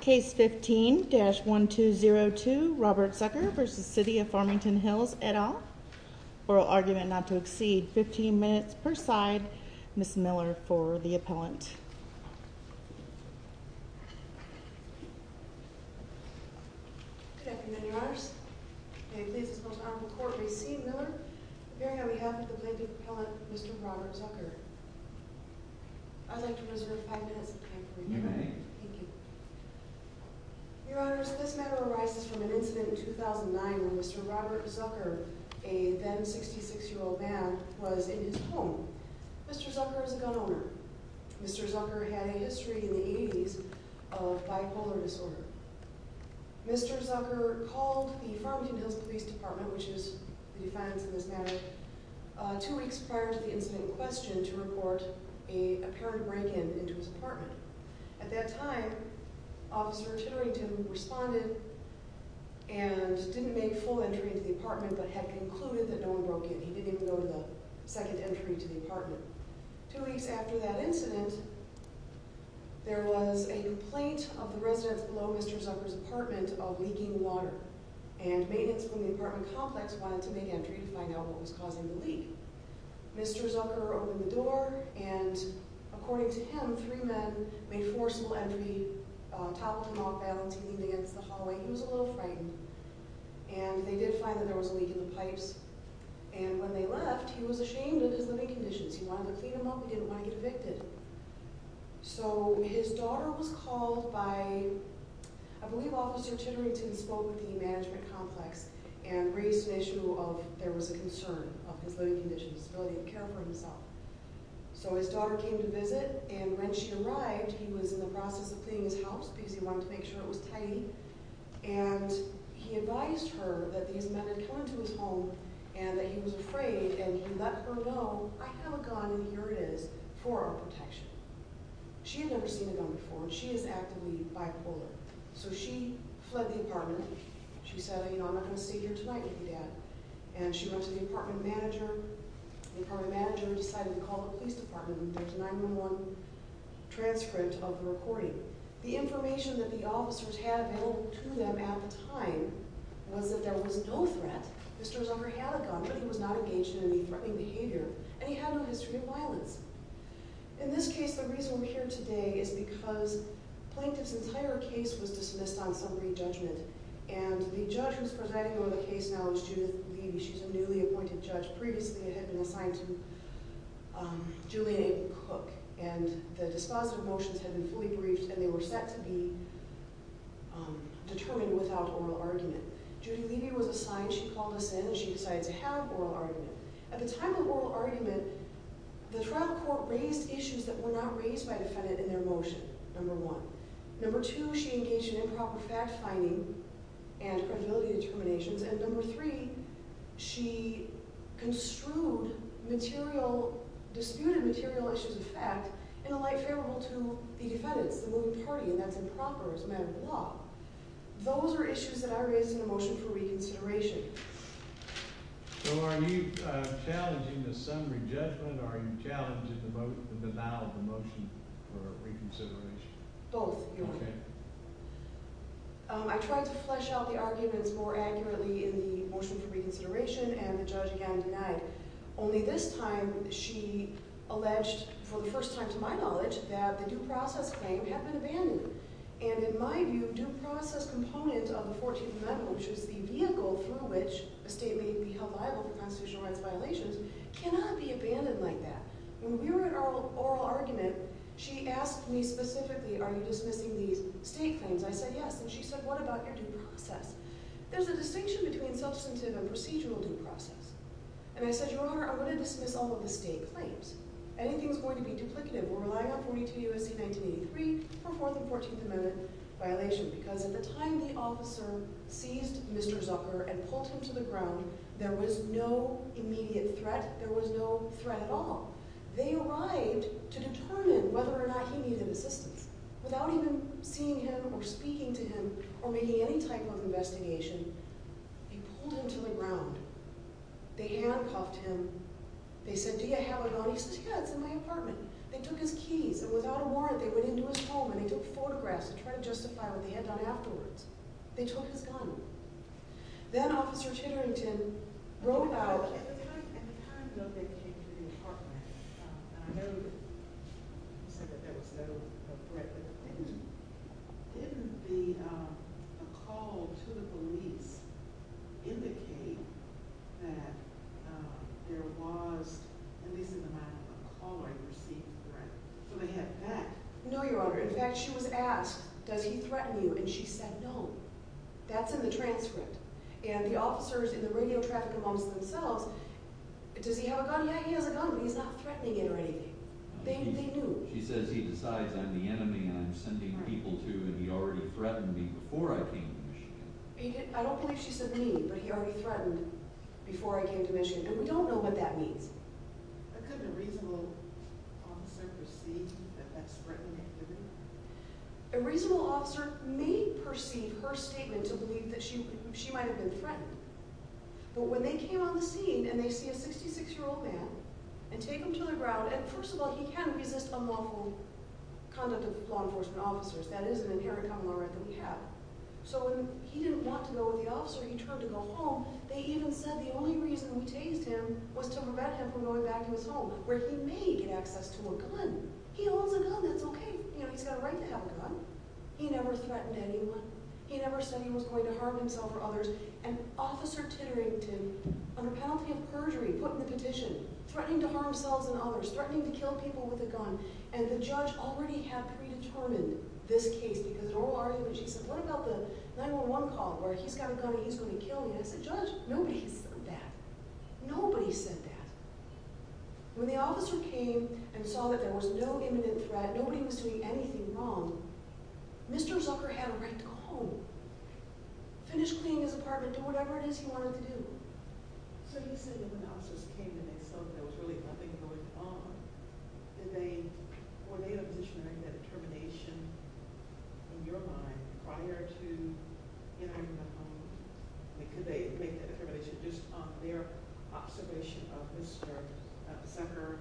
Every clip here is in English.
Case 15-1202 Robert Zucker v. City of Farmington Hills et al. Oral argument not to exceed 15 minutes per side. Ms. Miller for the appellant. Good afternoon, Your Honors. May it please the Most Honorable Court, receive Miller appearing on behalf of the plaintiff's appellant, Mr. Robert Zucker. I'd like to reserve five minutes of time for you. You may. Thank you. Your Honors, this matter arises from an incident in 2009 when Mr. Robert Zucker, a then 66-year-old man, was in his home. Mr. Zucker is a gun Mr. Zucker had a history in the 80s of bipolar disorder. Mr. Zucker called the Farmington Hills Police Department, which is the defense in this matter, two weeks prior to the incident in question to report a apparent break-in into his apartment. At that time, Officer Titterington responded and didn't make full entry into the apartment but had concluded that no one broke in. He didn't even go to the second entry to the apartment. Two weeks after that incident, there was a complaint of the residents below Mr. Zucker's apartment of leaking water and maintenance from the apartment complex wanted to make entry to find out what was causing the leak. Mr. Zucker opened the door and, according to him, three men made forcible entry, toppled him off balance, he leaned against the hallway. He was a little And when they left, he was ashamed of his living conditions. He wanted to clean them up, he didn't want to get evicted. So his daughter was called by, I believe Officer Titterington spoke with the management complex and raised an issue of there was a concern of his living conditions, the ability to care for himself. So his daughter came to visit and when she arrived, he was in the process of cleaning his house because he wanted to make sure it was tidy. And he advised her that these men had come into his home and that he was afraid and he let her know, I have a gun and here it is for our protection. She had never seen a gun before and she is actively bipolar. So she fled the apartment. She said, you know, I'm not going to sit here tonight with you, Dad. And she went to the apartment manager. The apartment manager decided to call the police department and there's a 9-1-1 transcript of the recording. The information that the officers had available to them at the time was that there was no threat. Mr. Zucker had a gun but he was not engaged in any threatening behavior and he had no history of violence. In this case, the reason we're here today is because Plaintiff's entire case was dismissed on summary judgment and the judge who's presiding over the case now is Judith Levy. She's a newly appointed judge. Previously, it had been assigned to Julian A. Cook and the dispositive motions had been fully briefed and they were set to be determined without oral argument. Judith Levy was assigned, she called us in and she decided to have oral argument. At the time of oral argument, the trial court raised issues that were not raised by the defendant in their motion, number one. Number two, she engaged in improper fact-finding and credibility determinations and number three, she construed disputed material issues of fact in a light favorable to the defendants, the moving party, and that's improper as a matter of the law. Those are issues that I raised in the motion for reconsideration. So are you challenging the summary judgment or are you challenging the denial of the motion for reconsideration? Both. I tried to flesh out the arguments more accurately in the motion for reconsideration and the judge again denied. Only this time, she alleged, for the first time to my knowledge, that the due process claim had been abandoned. And in my view, due process component of the 14th Amendment, which is the vehicle through which a state may be held liable for constitutional rights violations, cannot be abandoned like that. When we were at oral argument, she asked me specifically, are you dismissing these state claims? I said yes. And she said, what about your due process? There's a distinction between substantive and procedural due process. And I said, Your Honor, I'm going to dismiss all of the state claims. Anything is going to be duplicative. We're relying on 42 U.S.C. 1983 for 4th and 14th Amendment violation because at the time the officer seized Mr. Zucker and pulled him to the ground, there was no immediate threat. There was no threat at all. They arrived to determine whether or not he needed assistance. Without even seeing him or speaking to him or making any type of investigation, they pulled him to the ground. They handcuffed him. They said, do you have a gun? He said, yeah, it's in my apartment. They took his keys and without a warrant, they went into his home and they took photographs to try to justify with the gun. Then Officer Chitterington broke out. In the time that they came to the apartment, I know you said that there was no threat. Didn't the call to the police indicate that there was, at least in the mind of the caller, received a threat? So they had that. No, Your Honor. In fact, she was asked, does he threaten you? And she said, no. That's in the transcript. And the officers in the radio traffic amongst themselves, does he have a gun? Yeah, he has a gun, but he's not threatening it or anything. They knew. She says he decides I'm the enemy and I'm sending people to and he already threatened me before I came to Michigan. I don't believe she said me, but he already threatened before I came to Michigan. And we don't know what that means. Couldn't a reasonable officer perceive that that's threatening? A reasonable officer may perceive her statement to believe that she might have been threatened. But when they came on the scene and they see a 66-year-old man and take him to the ground, and first of all, he can resist unlawful conduct of law enforcement officers. That is an inherent common law right that we have. So when he didn't want to go with the officer, he turned to go home. They even said the only reason we tased him was to prevent him from going back to his home, where he may get access to a gun. He owns a gun, that's okay. He's got a right to have a gun. He never threatened anyone. He never said he was going to harm himself or others. And Officer Titterington, under penalty of perjury, put in the petition, threatening to harm himself and others, threatening to kill people with a gun. And the judge already had predetermined this case because in oral argument she said, what about the 9-1-1 call where he's got a gun and he's going to kill me? And I said, judge, nobody said that. Nobody said that. When the officer came and saw that there was no imminent threat, nobody was doing anything wrong, Mr. Zucker had a right to go home, finish cleaning his apartment, do whatever it is he wanted to do. So you said that when the officers came and they saw that there was really nothing going on, could they make that determination just on their observation of Mr. Zucker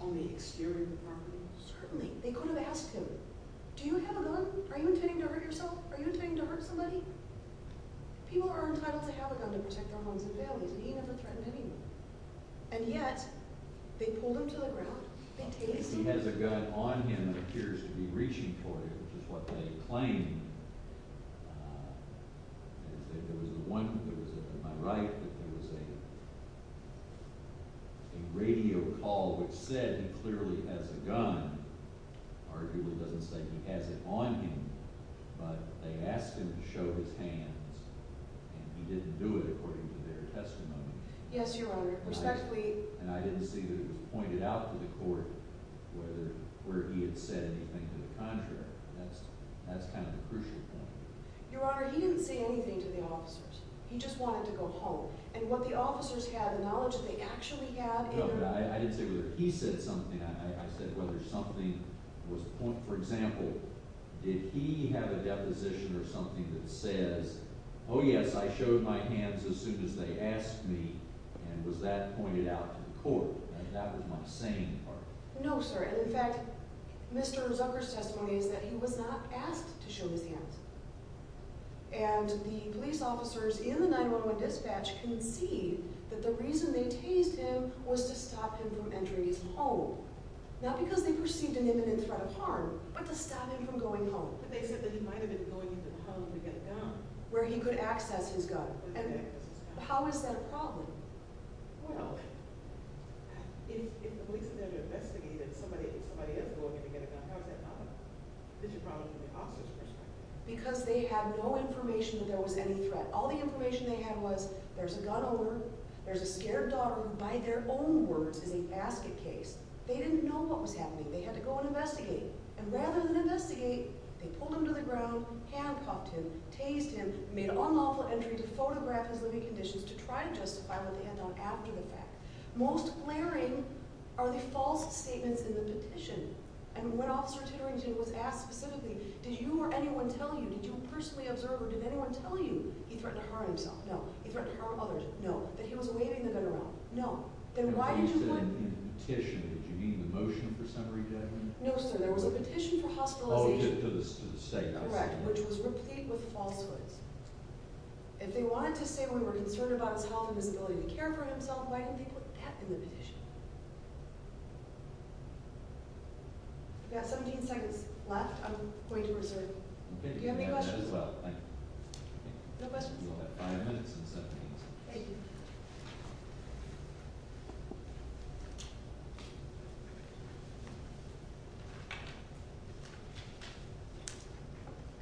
on the exterior of the apartment? Certainly. They could have asked him, do you have a gun? Are you intending to hurt yourself? Are you intending to hurt somebody? People are entitled to have a gun to protect their homes and families, and he never threatened anyone. And yet, they pulled him to the ground, they taped him. Well, if he has a gun on him and appears to be reaching for it, which is what they claim, there was a radio call which said he clearly has a gun. Arguably it doesn't say he has it on him, but they asked him to show his hands, and he didn't do it according to their testimony. Yes, Your Honor. Respectfully... And I didn't see that it was pointed out to the court where he had said anything to the contrary. That's kind of the crucial point. Your Honor, he didn't say anything to the officers. He just wanted to go home. And what the officers had, the knowledge that they actually had... No, but I didn't say whether he said something. I said whether something was pointed... For example, did he have a deposition or something that says, oh yes, I showed my hands as soon as they asked me, and was that pointed out to the court? And that was my saying part. No, sir. And in fact, Mr. Zucker's testimony is that he was not asked to show his hands. And the police officers in the 911 dispatch concede that the reason they tased him was to stop him from entering his home. Not because they perceived an imminent threat of harm, but to stop him from going home. But they said that he might have been going into the home to get a gun. Where he could access his gun. And how is that a problem? Well, if the police are there to investigate and somebody is going in to get a gun, how is that not a problem? This is a problem from the officer's perspective. Because they had no information that there was any threat. All the information they had was there's a gun owner, there's a scared daughter who, by their own words, is a basket case. They didn't know what was happening. They had to go and investigate. And rather than investigate, they pulled him to the ground, handcuffed him, tased him, made an unlawful entry to photograph his living conditions to try and justify what they had done after the fact. Most glaring are the false statements in the petition. And when Officer Titterington was asked specifically, did you or anyone tell you, did you personally observe or did anyone tell you he threatened to harm himself? No. He threatened to harm others? No. That he was waving the gun around? No. And when you said in the petition, did you mean the motion for summary judgment? No, sir. There was a petition for hospitalization. Oh, to the state house. Correct, which was replete with falsehoods. If they wanted to say we were concerned about his health and his ability to care for himself, why didn't they put that in the petition? We've got 17 seconds left. I'm going to reserve. Okay. Do you have any questions? No questions. You'll have five minutes and 17 seconds. Thank you.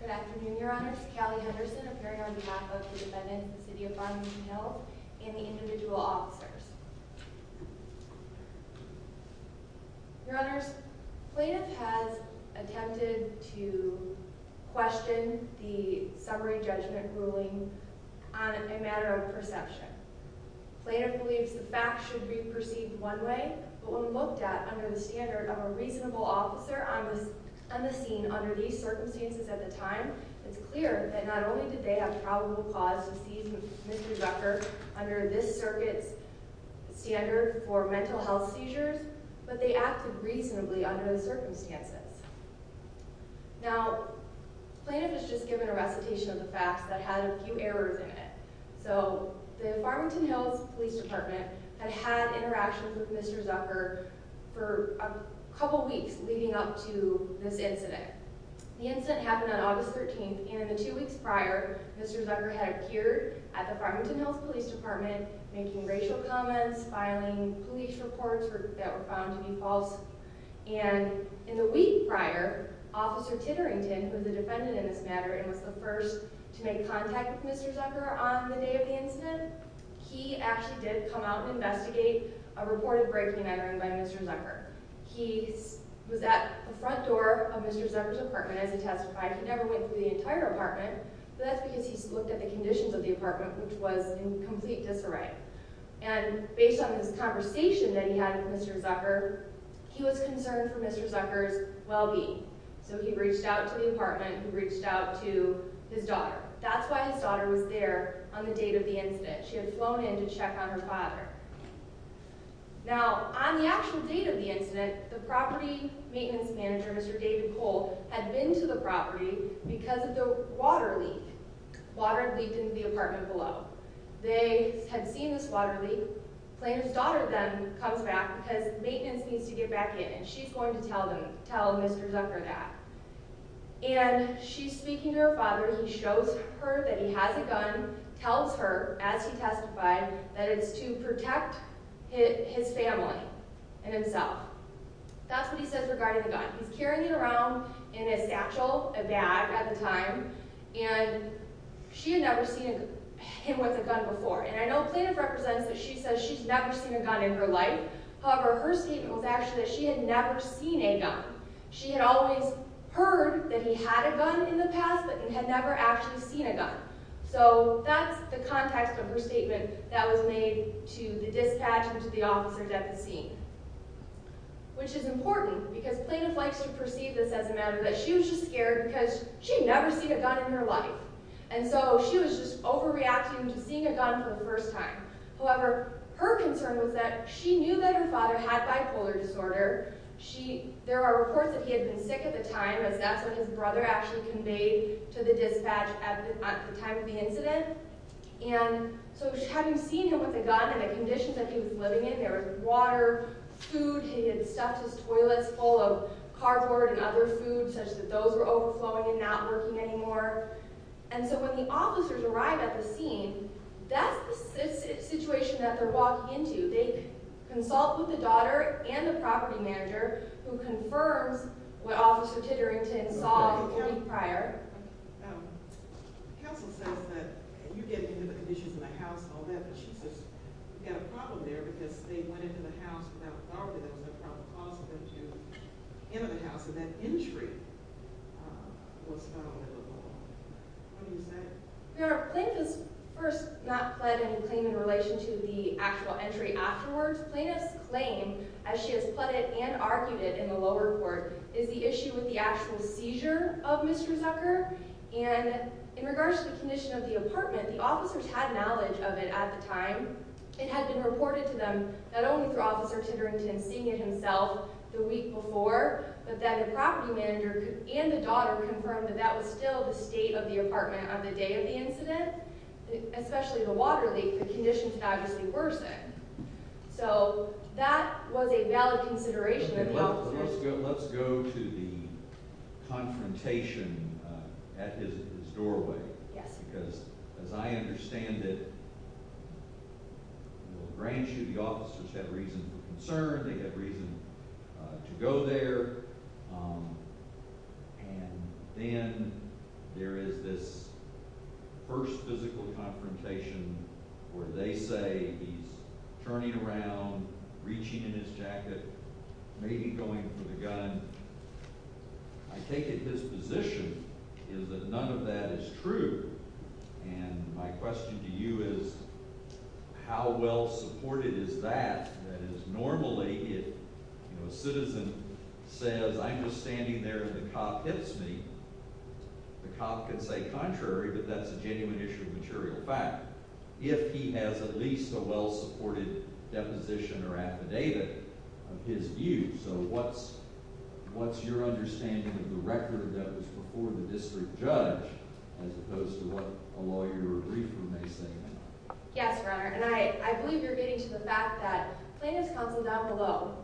Good afternoon, Your Honors. Callie Henderson, appearing on behalf of the defendants, the City of Farmington Hills, and the individual officers. Your Honors, plaintiff has attempted to question the summary judgment ruling on a matter of perception. Plaintiff believes the fact should be perceived one way, but when looked at under the standard of a reasonable officer on the scene under these circumstances at the time, it's clear that not only did they have probable cause to seize Mr. Zucker under this circuit's standard for mental health seizures, but they acted reasonably under the circumstances. Now, plaintiff has just given a recitation of the facts that had a few errors in it. So, the Farmington Hills Police Department had had interactions with Mr. Zucker for a couple weeks leading up to this incident. The incident happened on August 13th, and in the two weeks prior, Mr. Zucker had appeared at the Farmington Hills Police Department making racial comments, filing police reports that were found to be false. And in the week prior, Officer Titterington, who is a defendant in this matter and was the first to make contact with Mr. Zucker on the day of the incident, he actually did come out and investigate a reported breaking and entering by Mr. Zucker. He was at the front door of Mr. Zucker's apartment as he testified. He never went through the entire apartment, but that's because he looked at the conditions of the apartment, which was in complete disarray. And based on his conversation that he had with Mr. Zucker, he was concerned for Mr. Zucker's well-being. So, he reached out to the apartment. He reached out to his daughter. That's why his daughter was there on the date of the incident. She had flown in to check on her father. Now, on the actual date of the incident, the property maintenance manager, Mr. David Cole, had been to the property because of the water leak. Water had leaked into the apartment below. They had seen this water leak. Planner's daughter then comes back because maintenance needs to get back in, and she's going to tell Mr. Zucker that. And she's speaking to her father. He shows her that he has a gun, tells her, as he testified, that it's to protect his family and himself. That's what he says regarding the gun. He's carrying it around in a satchel, a bag at the time, and she had never seen him with a gun before. And I know Planner represents that she says she's never seen a gun in her life. However, her statement was actually that she had never seen a gun. She had always heard that he had a gun in the past, but had never actually seen a gun. So that's the context of her statement that was made to the dispatch and to the officers at the scene, which is important because Planner likes to perceive this as a matter that she was just scared because she had never seen a gun in her life. And so she was just overreacting to seeing a gun for the first time. However, her concern was that she knew that her father had bipolar disorder. There are reports that he had been sick at the time, as that's what his brother actually conveyed to the dispatch at the time of the incident. And so having seen him with a gun and the conditions that he was living in, there was water, food, he had stuffed his toilets full of cardboard and other food such that those were overflowing and not working anymore. And so when the officers arrive at the scene, that's the situation that they're walking into. They consult with the daughter and the property manager who confirms what Officer Titterington saw a week prior. Your Honor, Plank has first not pled any claim in relation to the actual entry afterwards. Planner's claim, as she has pleaded and argued it in the lower court, is the issue with the actual seizure of Mr. Zucker. And in regards to the condition of the apartment, the officers had knowledge of it at the time. It had been reported to them, not only through Officer Titterington seeing it himself the week before, but that the property manager and the daughter confirmed that that was still the state of the apartment on the day of the incident, especially the water leak, the conditions had obviously worsened. So that was a valid consideration of the officers. Let's go to the confrontation at his doorway. Yes. Because as I understand it, the grand juvie officers had reason for concern, they had there is this first physical confrontation where they say he's turning around, reaching in his jacket, maybe going for the gun. I take it his position is that none of that is true. And my question to you is, how well supported is that? That is, normally, if a citizen says, I'm just standing there and the cop hits me, the cop can say contrary, but that's a genuine issue of material fact, if he has at least a well-supported deposition or affidavit of his view. So what's your understanding of the record of that was before the district judge, as opposed to what a lawyer or a riefer may say now? Yes, Your Honor. And I believe you're getting to the fact that plaintiff's counsel down below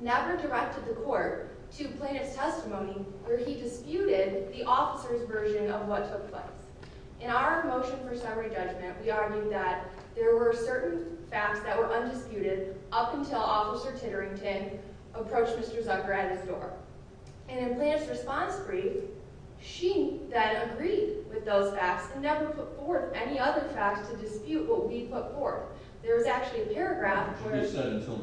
never directed the court to plaintiff's testimony where he disputed the officer's version of what took place. In our motion for summary judgment, we argued that there were certain facts that were undisputed up until Officer Titterington approached Mr. Zucker at his door. And in plaintiff's response brief, she then agreed with those facts and never put forth any other facts to dispute what we put forth. There's actually a paragraph where... You said until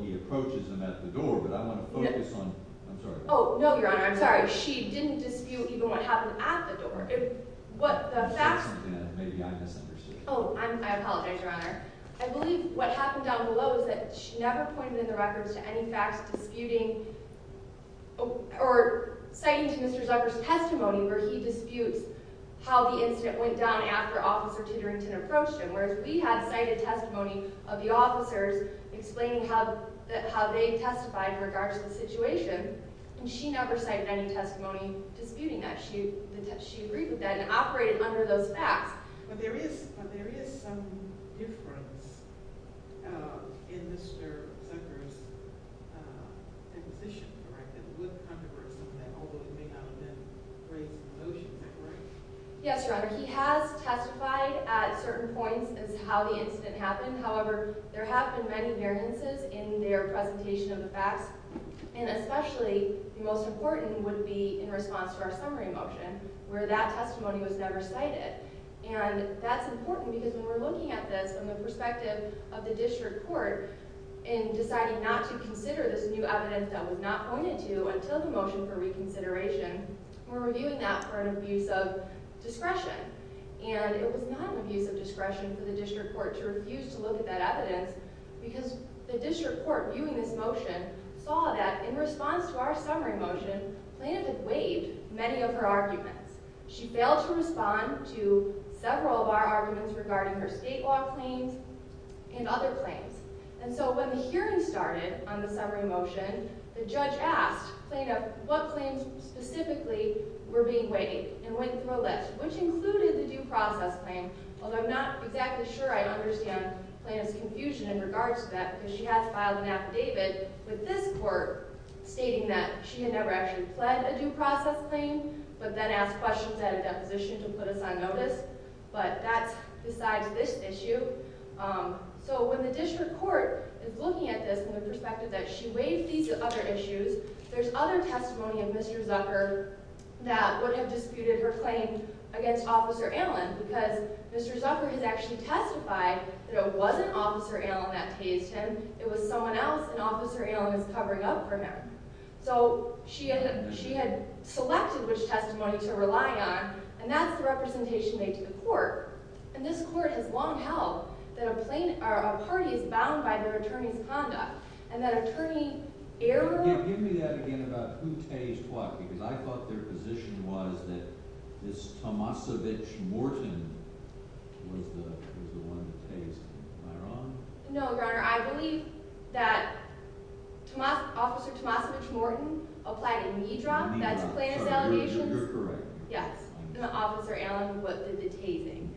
he approaches him at the door, but I want to focus on... Yes. I'm sorry. Oh, no, Your Honor, I'm sorry. She didn't dispute even what happened at the door. What the facts... That's something that maybe I misunderstood. Oh, I apologize, Your Honor. I believe what happened down below is that she never pointed in the records to any facts disputing or citing to Mr. Zucker's testimony where he disputes how the incident went down after Officer Titterington approached him, whereas we had cited testimony of the officers explaining how they testified in regards to the situation, and she never cited any testimony disputing that. She agreed with that and operated under those facts. But there is some difference in Mr. Zucker's position, correct? It looked controversial, although it may not have been raised in the motion, is that right? Yes, Your Honor. He has testified at certain points as to how the incident happened. However, there have been many variances in their presentation of the facts, and especially the most important would be in response to our summary motion, where that testimony was never cited. And that's important because when we're looking at this from the perspective of the district court in deciding not to consider this new evidence that was not pointed to until the motion for reconsideration, we're reviewing that for an abuse of discretion. And it was not an abuse of discretion for the district court to refuse to look at that evidence because the district court, viewing this motion, saw that in response to our summary motion, Plaintiff had waived many of her arguments. She failed to respond to several of our arguments regarding her state law claims and other claims. And so when the hearing started on the summary motion, the judge asked Plaintiff what claims specifically were being waived and went through a list, which included the due process claim, although I'm not exactly sure I understand Plaintiff's confusion in regards to that, because she has filed an affidavit with this court stating that she had never actually pled a due process claim, but then asked questions at a deposition to put us on notice. But that's besides this issue. So when the district court is looking at this from the perspective that she waived these other issues, there's other testimony of Mr. Zucker that would have disputed her claim against Officer Allen, because Mr. Zucker has actually testified that it wasn't Officer Allen that tased him, it was someone else and Officer Allen was covering up for him. So she had selected which testimony to rely on, and that's the representation made to the court. And this court has long held that a party is bound by their attorney's conduct, and that attorney error... Give me that again about who tased what, because I thought their position was that this Tomasovich Morton was the one that tased. Am I wrong? No, Your Honor, I believe that Officer Tomasovich Morton applied a knee drop. A knee drop. That's Plaintiff's allegation. You're correct. Yes. And Officer Allen was what did the tasing.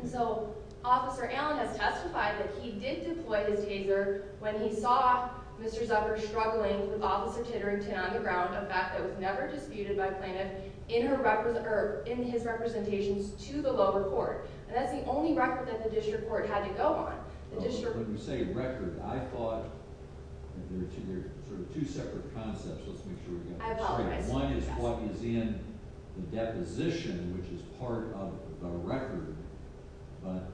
And so Officer Allen has testified that he did deploy his taser when he saw Mr. Zucker struggling with Officer Titterington on the ground, a fact that was never disputed by Plaintiff, in his representations to the lower court. And that's the only record that the district court had to go on. When you say record, I thought there were two separate concepts. Let's make sure we got this straight. I apologize. One is what is in the deposition, which is part of the record, but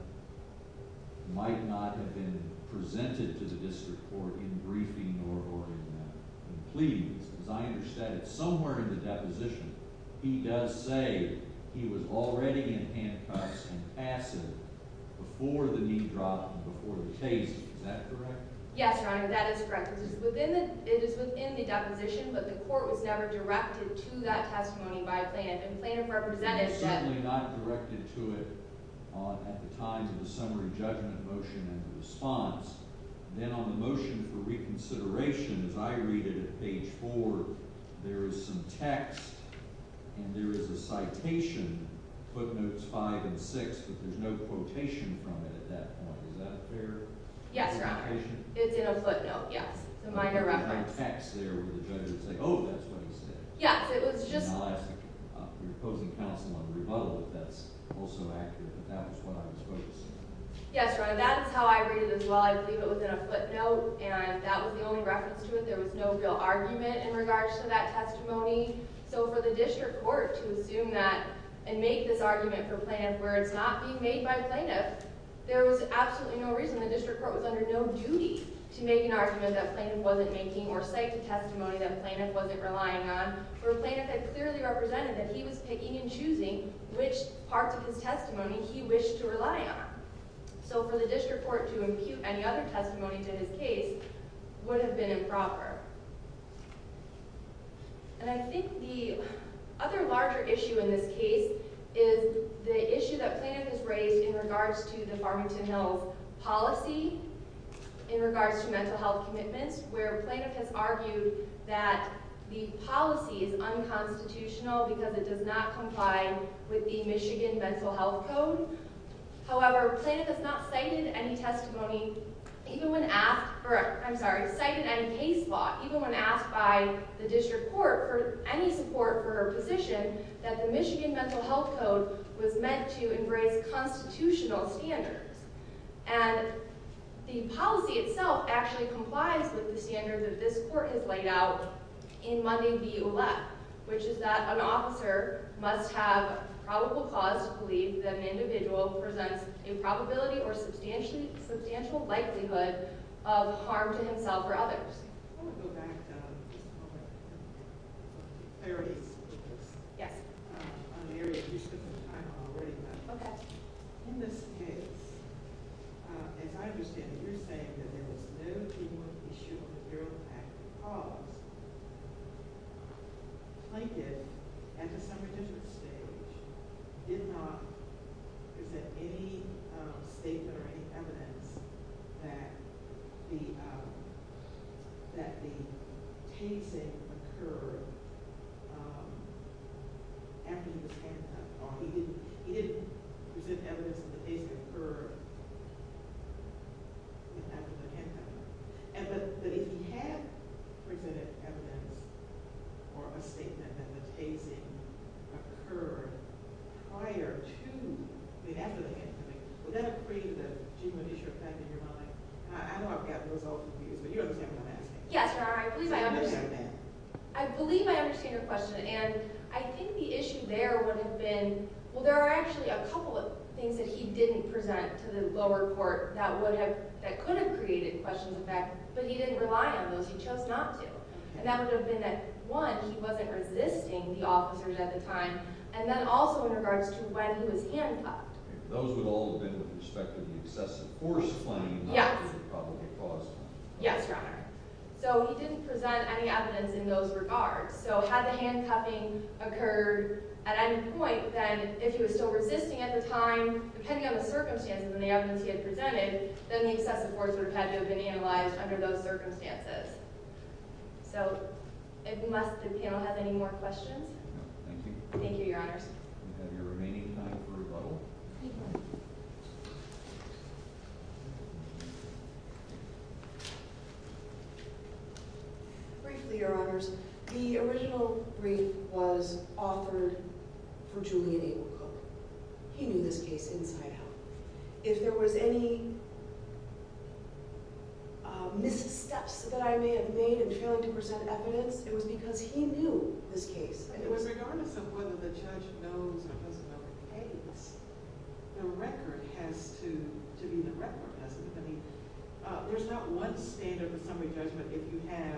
might not have been presented to the district court in briefing or in that. And please, as I understand it, somewhere in the deposition, he does say he was already in handcuffs and acid before the knee drop and before the tase. Is that correct? Yes, Your Honor, that is correct. It is within the deposition, but the court was never directed to that testimony by Plaintiff. And Plaintiff represented that. It was certainly not directed to it at the time of the summary judgment motion and the response. Then on the motion for reconsideration, as I read it at page four, there is some text and there is a citation, footnotes five and six, but there's no quotation from it at that point. Is that fair? Yes, Your Honor. It's in a footnote. Yes. It's a minor reference. There's no text there where the judge would say, oh, that's what he said. Yes, it was just... I'll ask the opposing counsel on the rebuttal if that's also accurate, but that was what I was focusing on. Yes, Your Honor, that is how I read it as well. I believe it was in a footnote and that was the only reference to it. There was no real argument in regards to that testimony. So for the district court to assume that and make this argument for Plaintiff where it's not being made by Plaintiff, there was absolutely no reason. The district court was under no duty to make an argument that Plaintiff wasn't making or cite a testimony that Plaintiff wasn't relying on where Plaintiff had clearly represented that he was picking and choosing which parts of his testimony he wished to rely on. So for the district court to impute any other testimony to his case would have been improper. And I think the other larger issue in this case is the issue that Plaintiff has raised in regards to the Farmington Hills policy in regards to mental health commitments where Plaintiff has argued that the policy is unconstitutional because it does not comply with the Michigan Mental Health Code. However, Plaintiff has not cited any testimony, even when asked... I'm sorry, cited any case law, even when asked by the district court for any support for a position that the Michigan Mental Health Code was meant to embrace constitutional standards. And the policy itself actually complies with the standards that this court has laid out in Monday v. Ouellette, which is that an officer must have probable cause to believe that an individual presents a probability or substantial likelihood of harm to himself or others. I want to go back just a moment. Clarity, please. Yes. In this case, as I understand it, you're saying that there was no human issue on the parole pact because Plaintiff, at a somewhat different stage, did not present any statement or any evidence that the tasing occurred after the handcuff. He didn't present evidence that the tasing occurred after the handcuff. But if he had presented evidence or a statement that the tasing occurred prior to, I mean I know I've got the results of these, but you understand what I'm asking. Yes, Your Honor. I believe I understand your question. And I think the issue there would have been, well, there are actually a couple of things that he didn't present to the lower court that could have created questions of that, but he didn't rely on those. He chose not to. And that would have been that, one, he wasn't resisting the officers at the time, and then also in regards to when he was handcuffed. Those would all have been with respect to the excessive force claim that he probably caused. Yes, Your Honor. So he didn't present any evidence in those regards. So had the handcuffing occurred at any point, then if he was still resisting at the time, depending on the circumstances and the evidence he had presented, then the excessive force would have had to have been analyzed under those circumstances. So unless the panel has any more questions. No, thank you. Thank you, Your Honors. We have your remaining time for rebuttal. Thank you. Briefly, Your Honors, the original brief was authored for Julian Abel Cooke. He knew this case inside out. If there was any missteps that I may have made in failing to present evidence, it was because he knew this case. It was regardless of whether the judge knows or doesn't know the case. The record has to be the record, hasn't it? I mean, there's not one standard for summary judgment if you have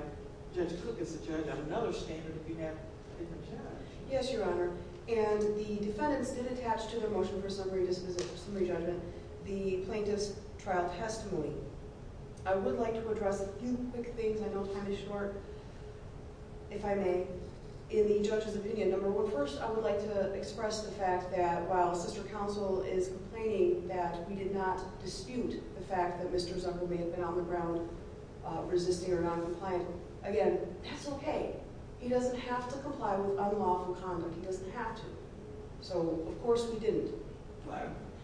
Judge Cooke as a judge and another standard if you have a different judge. Yes, Your Honor. And the defendants did attach to their motion for summary judgment the plaintiff's trial testimony. I would like to address a few quick things. I know time is short, if I may. In the judge's opinion, number one, first, I would like to express the fact that while sister counsel is complaining that we did not dispute the fact that Mr. Zucker may have been on the ground resisting or noncompliant, again, that's okay. He doesn't have to comply with unlawful conduct. He doesn't have to. So, of course, we didn't.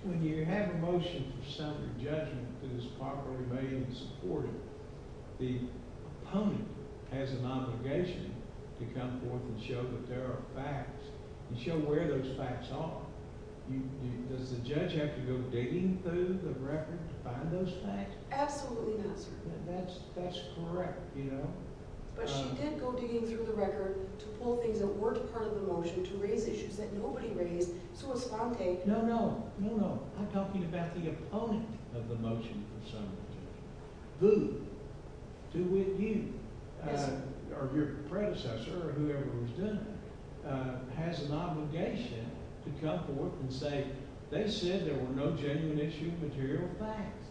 When you have a motion for summary judgment that is properly made and supported, the opponent has an obligation to come forth and show that there are facts and show where those facts are. Does the judge have to go digging through the record to find those facts? Absolutely not, sir. That's correct, you know. But she did go digging through the record to pull things that weren't part of the motion to raise issues that nobody raised. No, no, no, no. I'm talking about the opponent of the motion for summary judgment. Who? Who with you or your predecessor or whoever was doing it has an obligation to come forth and say they said there were no genuine issue material facts.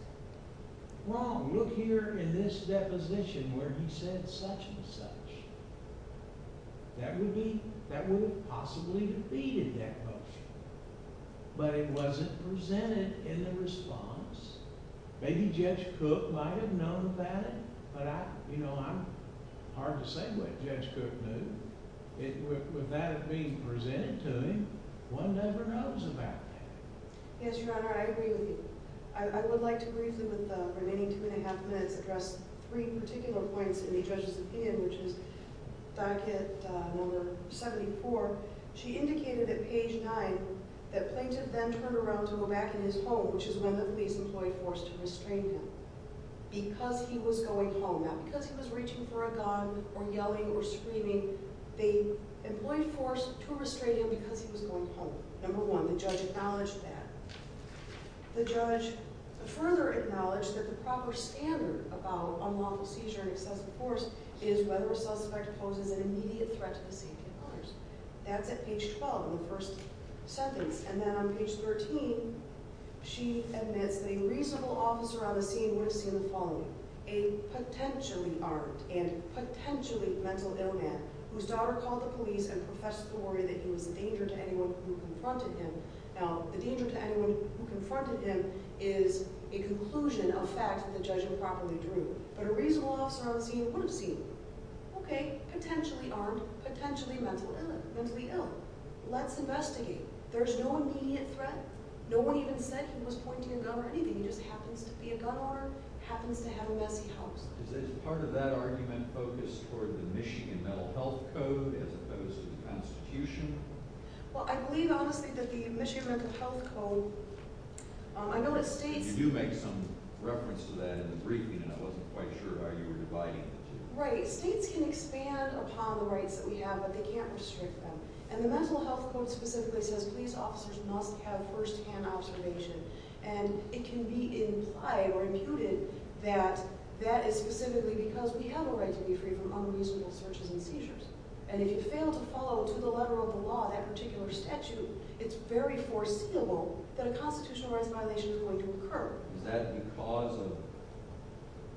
Wrong. Look here in this deposition where he said such and such. That would have possibly defeated that motion, but it wasn't presented in the response. Maybe Judge Cook might have known about it, but I'm hard to say what Judge Cook knew. Would that have been presented to him? One never knows about that. Yes, Your Honor, I agree with you. I would like to briefly with the remaining two and a half minutes address three particular points in the judge's opinion, which is docket number 74. She indicated at page 9 that plaintiff then turned around to go back in his home, which is when the police employed force to restrain him because he was going home. Not because he was reaching for a gun or yelling or screaming. They employed force to restrain him because he was going home. Number one, the judge acknowledged that. The judge further acknowledged that the proper standard about unlawful seizure and excessive force is whether a suspect poses an immediate threat to the safety of others. That's at page 12 in the first sentence. And then on page 13, she admits that a reasonable officer on the scene would have seen the following. A potentially armed and potentially mental ill man whose daughter called the police and professed to the warrior that he was a danger to anyone who confronted him. Now, the danger to anyone who confronted him is a conclusion of facts that the judge improperly drew, but a reasonable officer on the scene would have seen, okay, potentially armed, potentially mentally ill. Let's investigate. There's no immediate threat. No one even said he was pointing a gun or anything. He just happens to be a gun owner, happens to have a messy house. Is part of that argument focused toward the Michigan Mental Health Code as opposed to the Constitution? Well, I believe, honestly, that the Michigan Mental Health Code, I know that states... You do make some reference to that in the briefing, and I wasn't quite sure how you were dividing it. Right. States can expand upon the rights that we have, but they can't restrict them. And the Mental Health Code specifically says police officers must have firsthand observation, and it can be implied or imputed that that is specifically because we have a right to be free from unreasonable searches and seizures. And if you fail to follow to the letter of the law that particular statute, it's very foreseeable that a constitutional rights violation is going to occur. Is that because of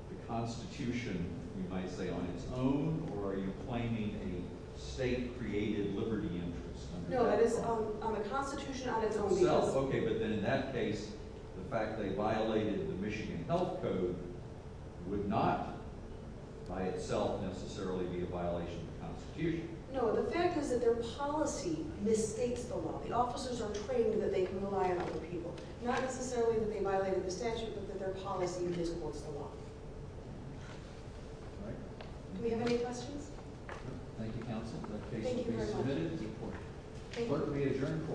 the Constitution, you might say, on its own, or are you claiming a state created liberty interest? No, that is on the Constitution on its own basis. Okay, but then in that case, the fact they violated the Michigan Health Code would not by itself necessarily be a violation of the Constitution. No, the fact is that their policy misstates the law. The officers are trained that they can rely on other people. Not necessarily that they violated the statute, but that their policy misquotes the law. Do we have any questions? Thank you, counsel. The case will be submitted to the court. Court will be adjourned.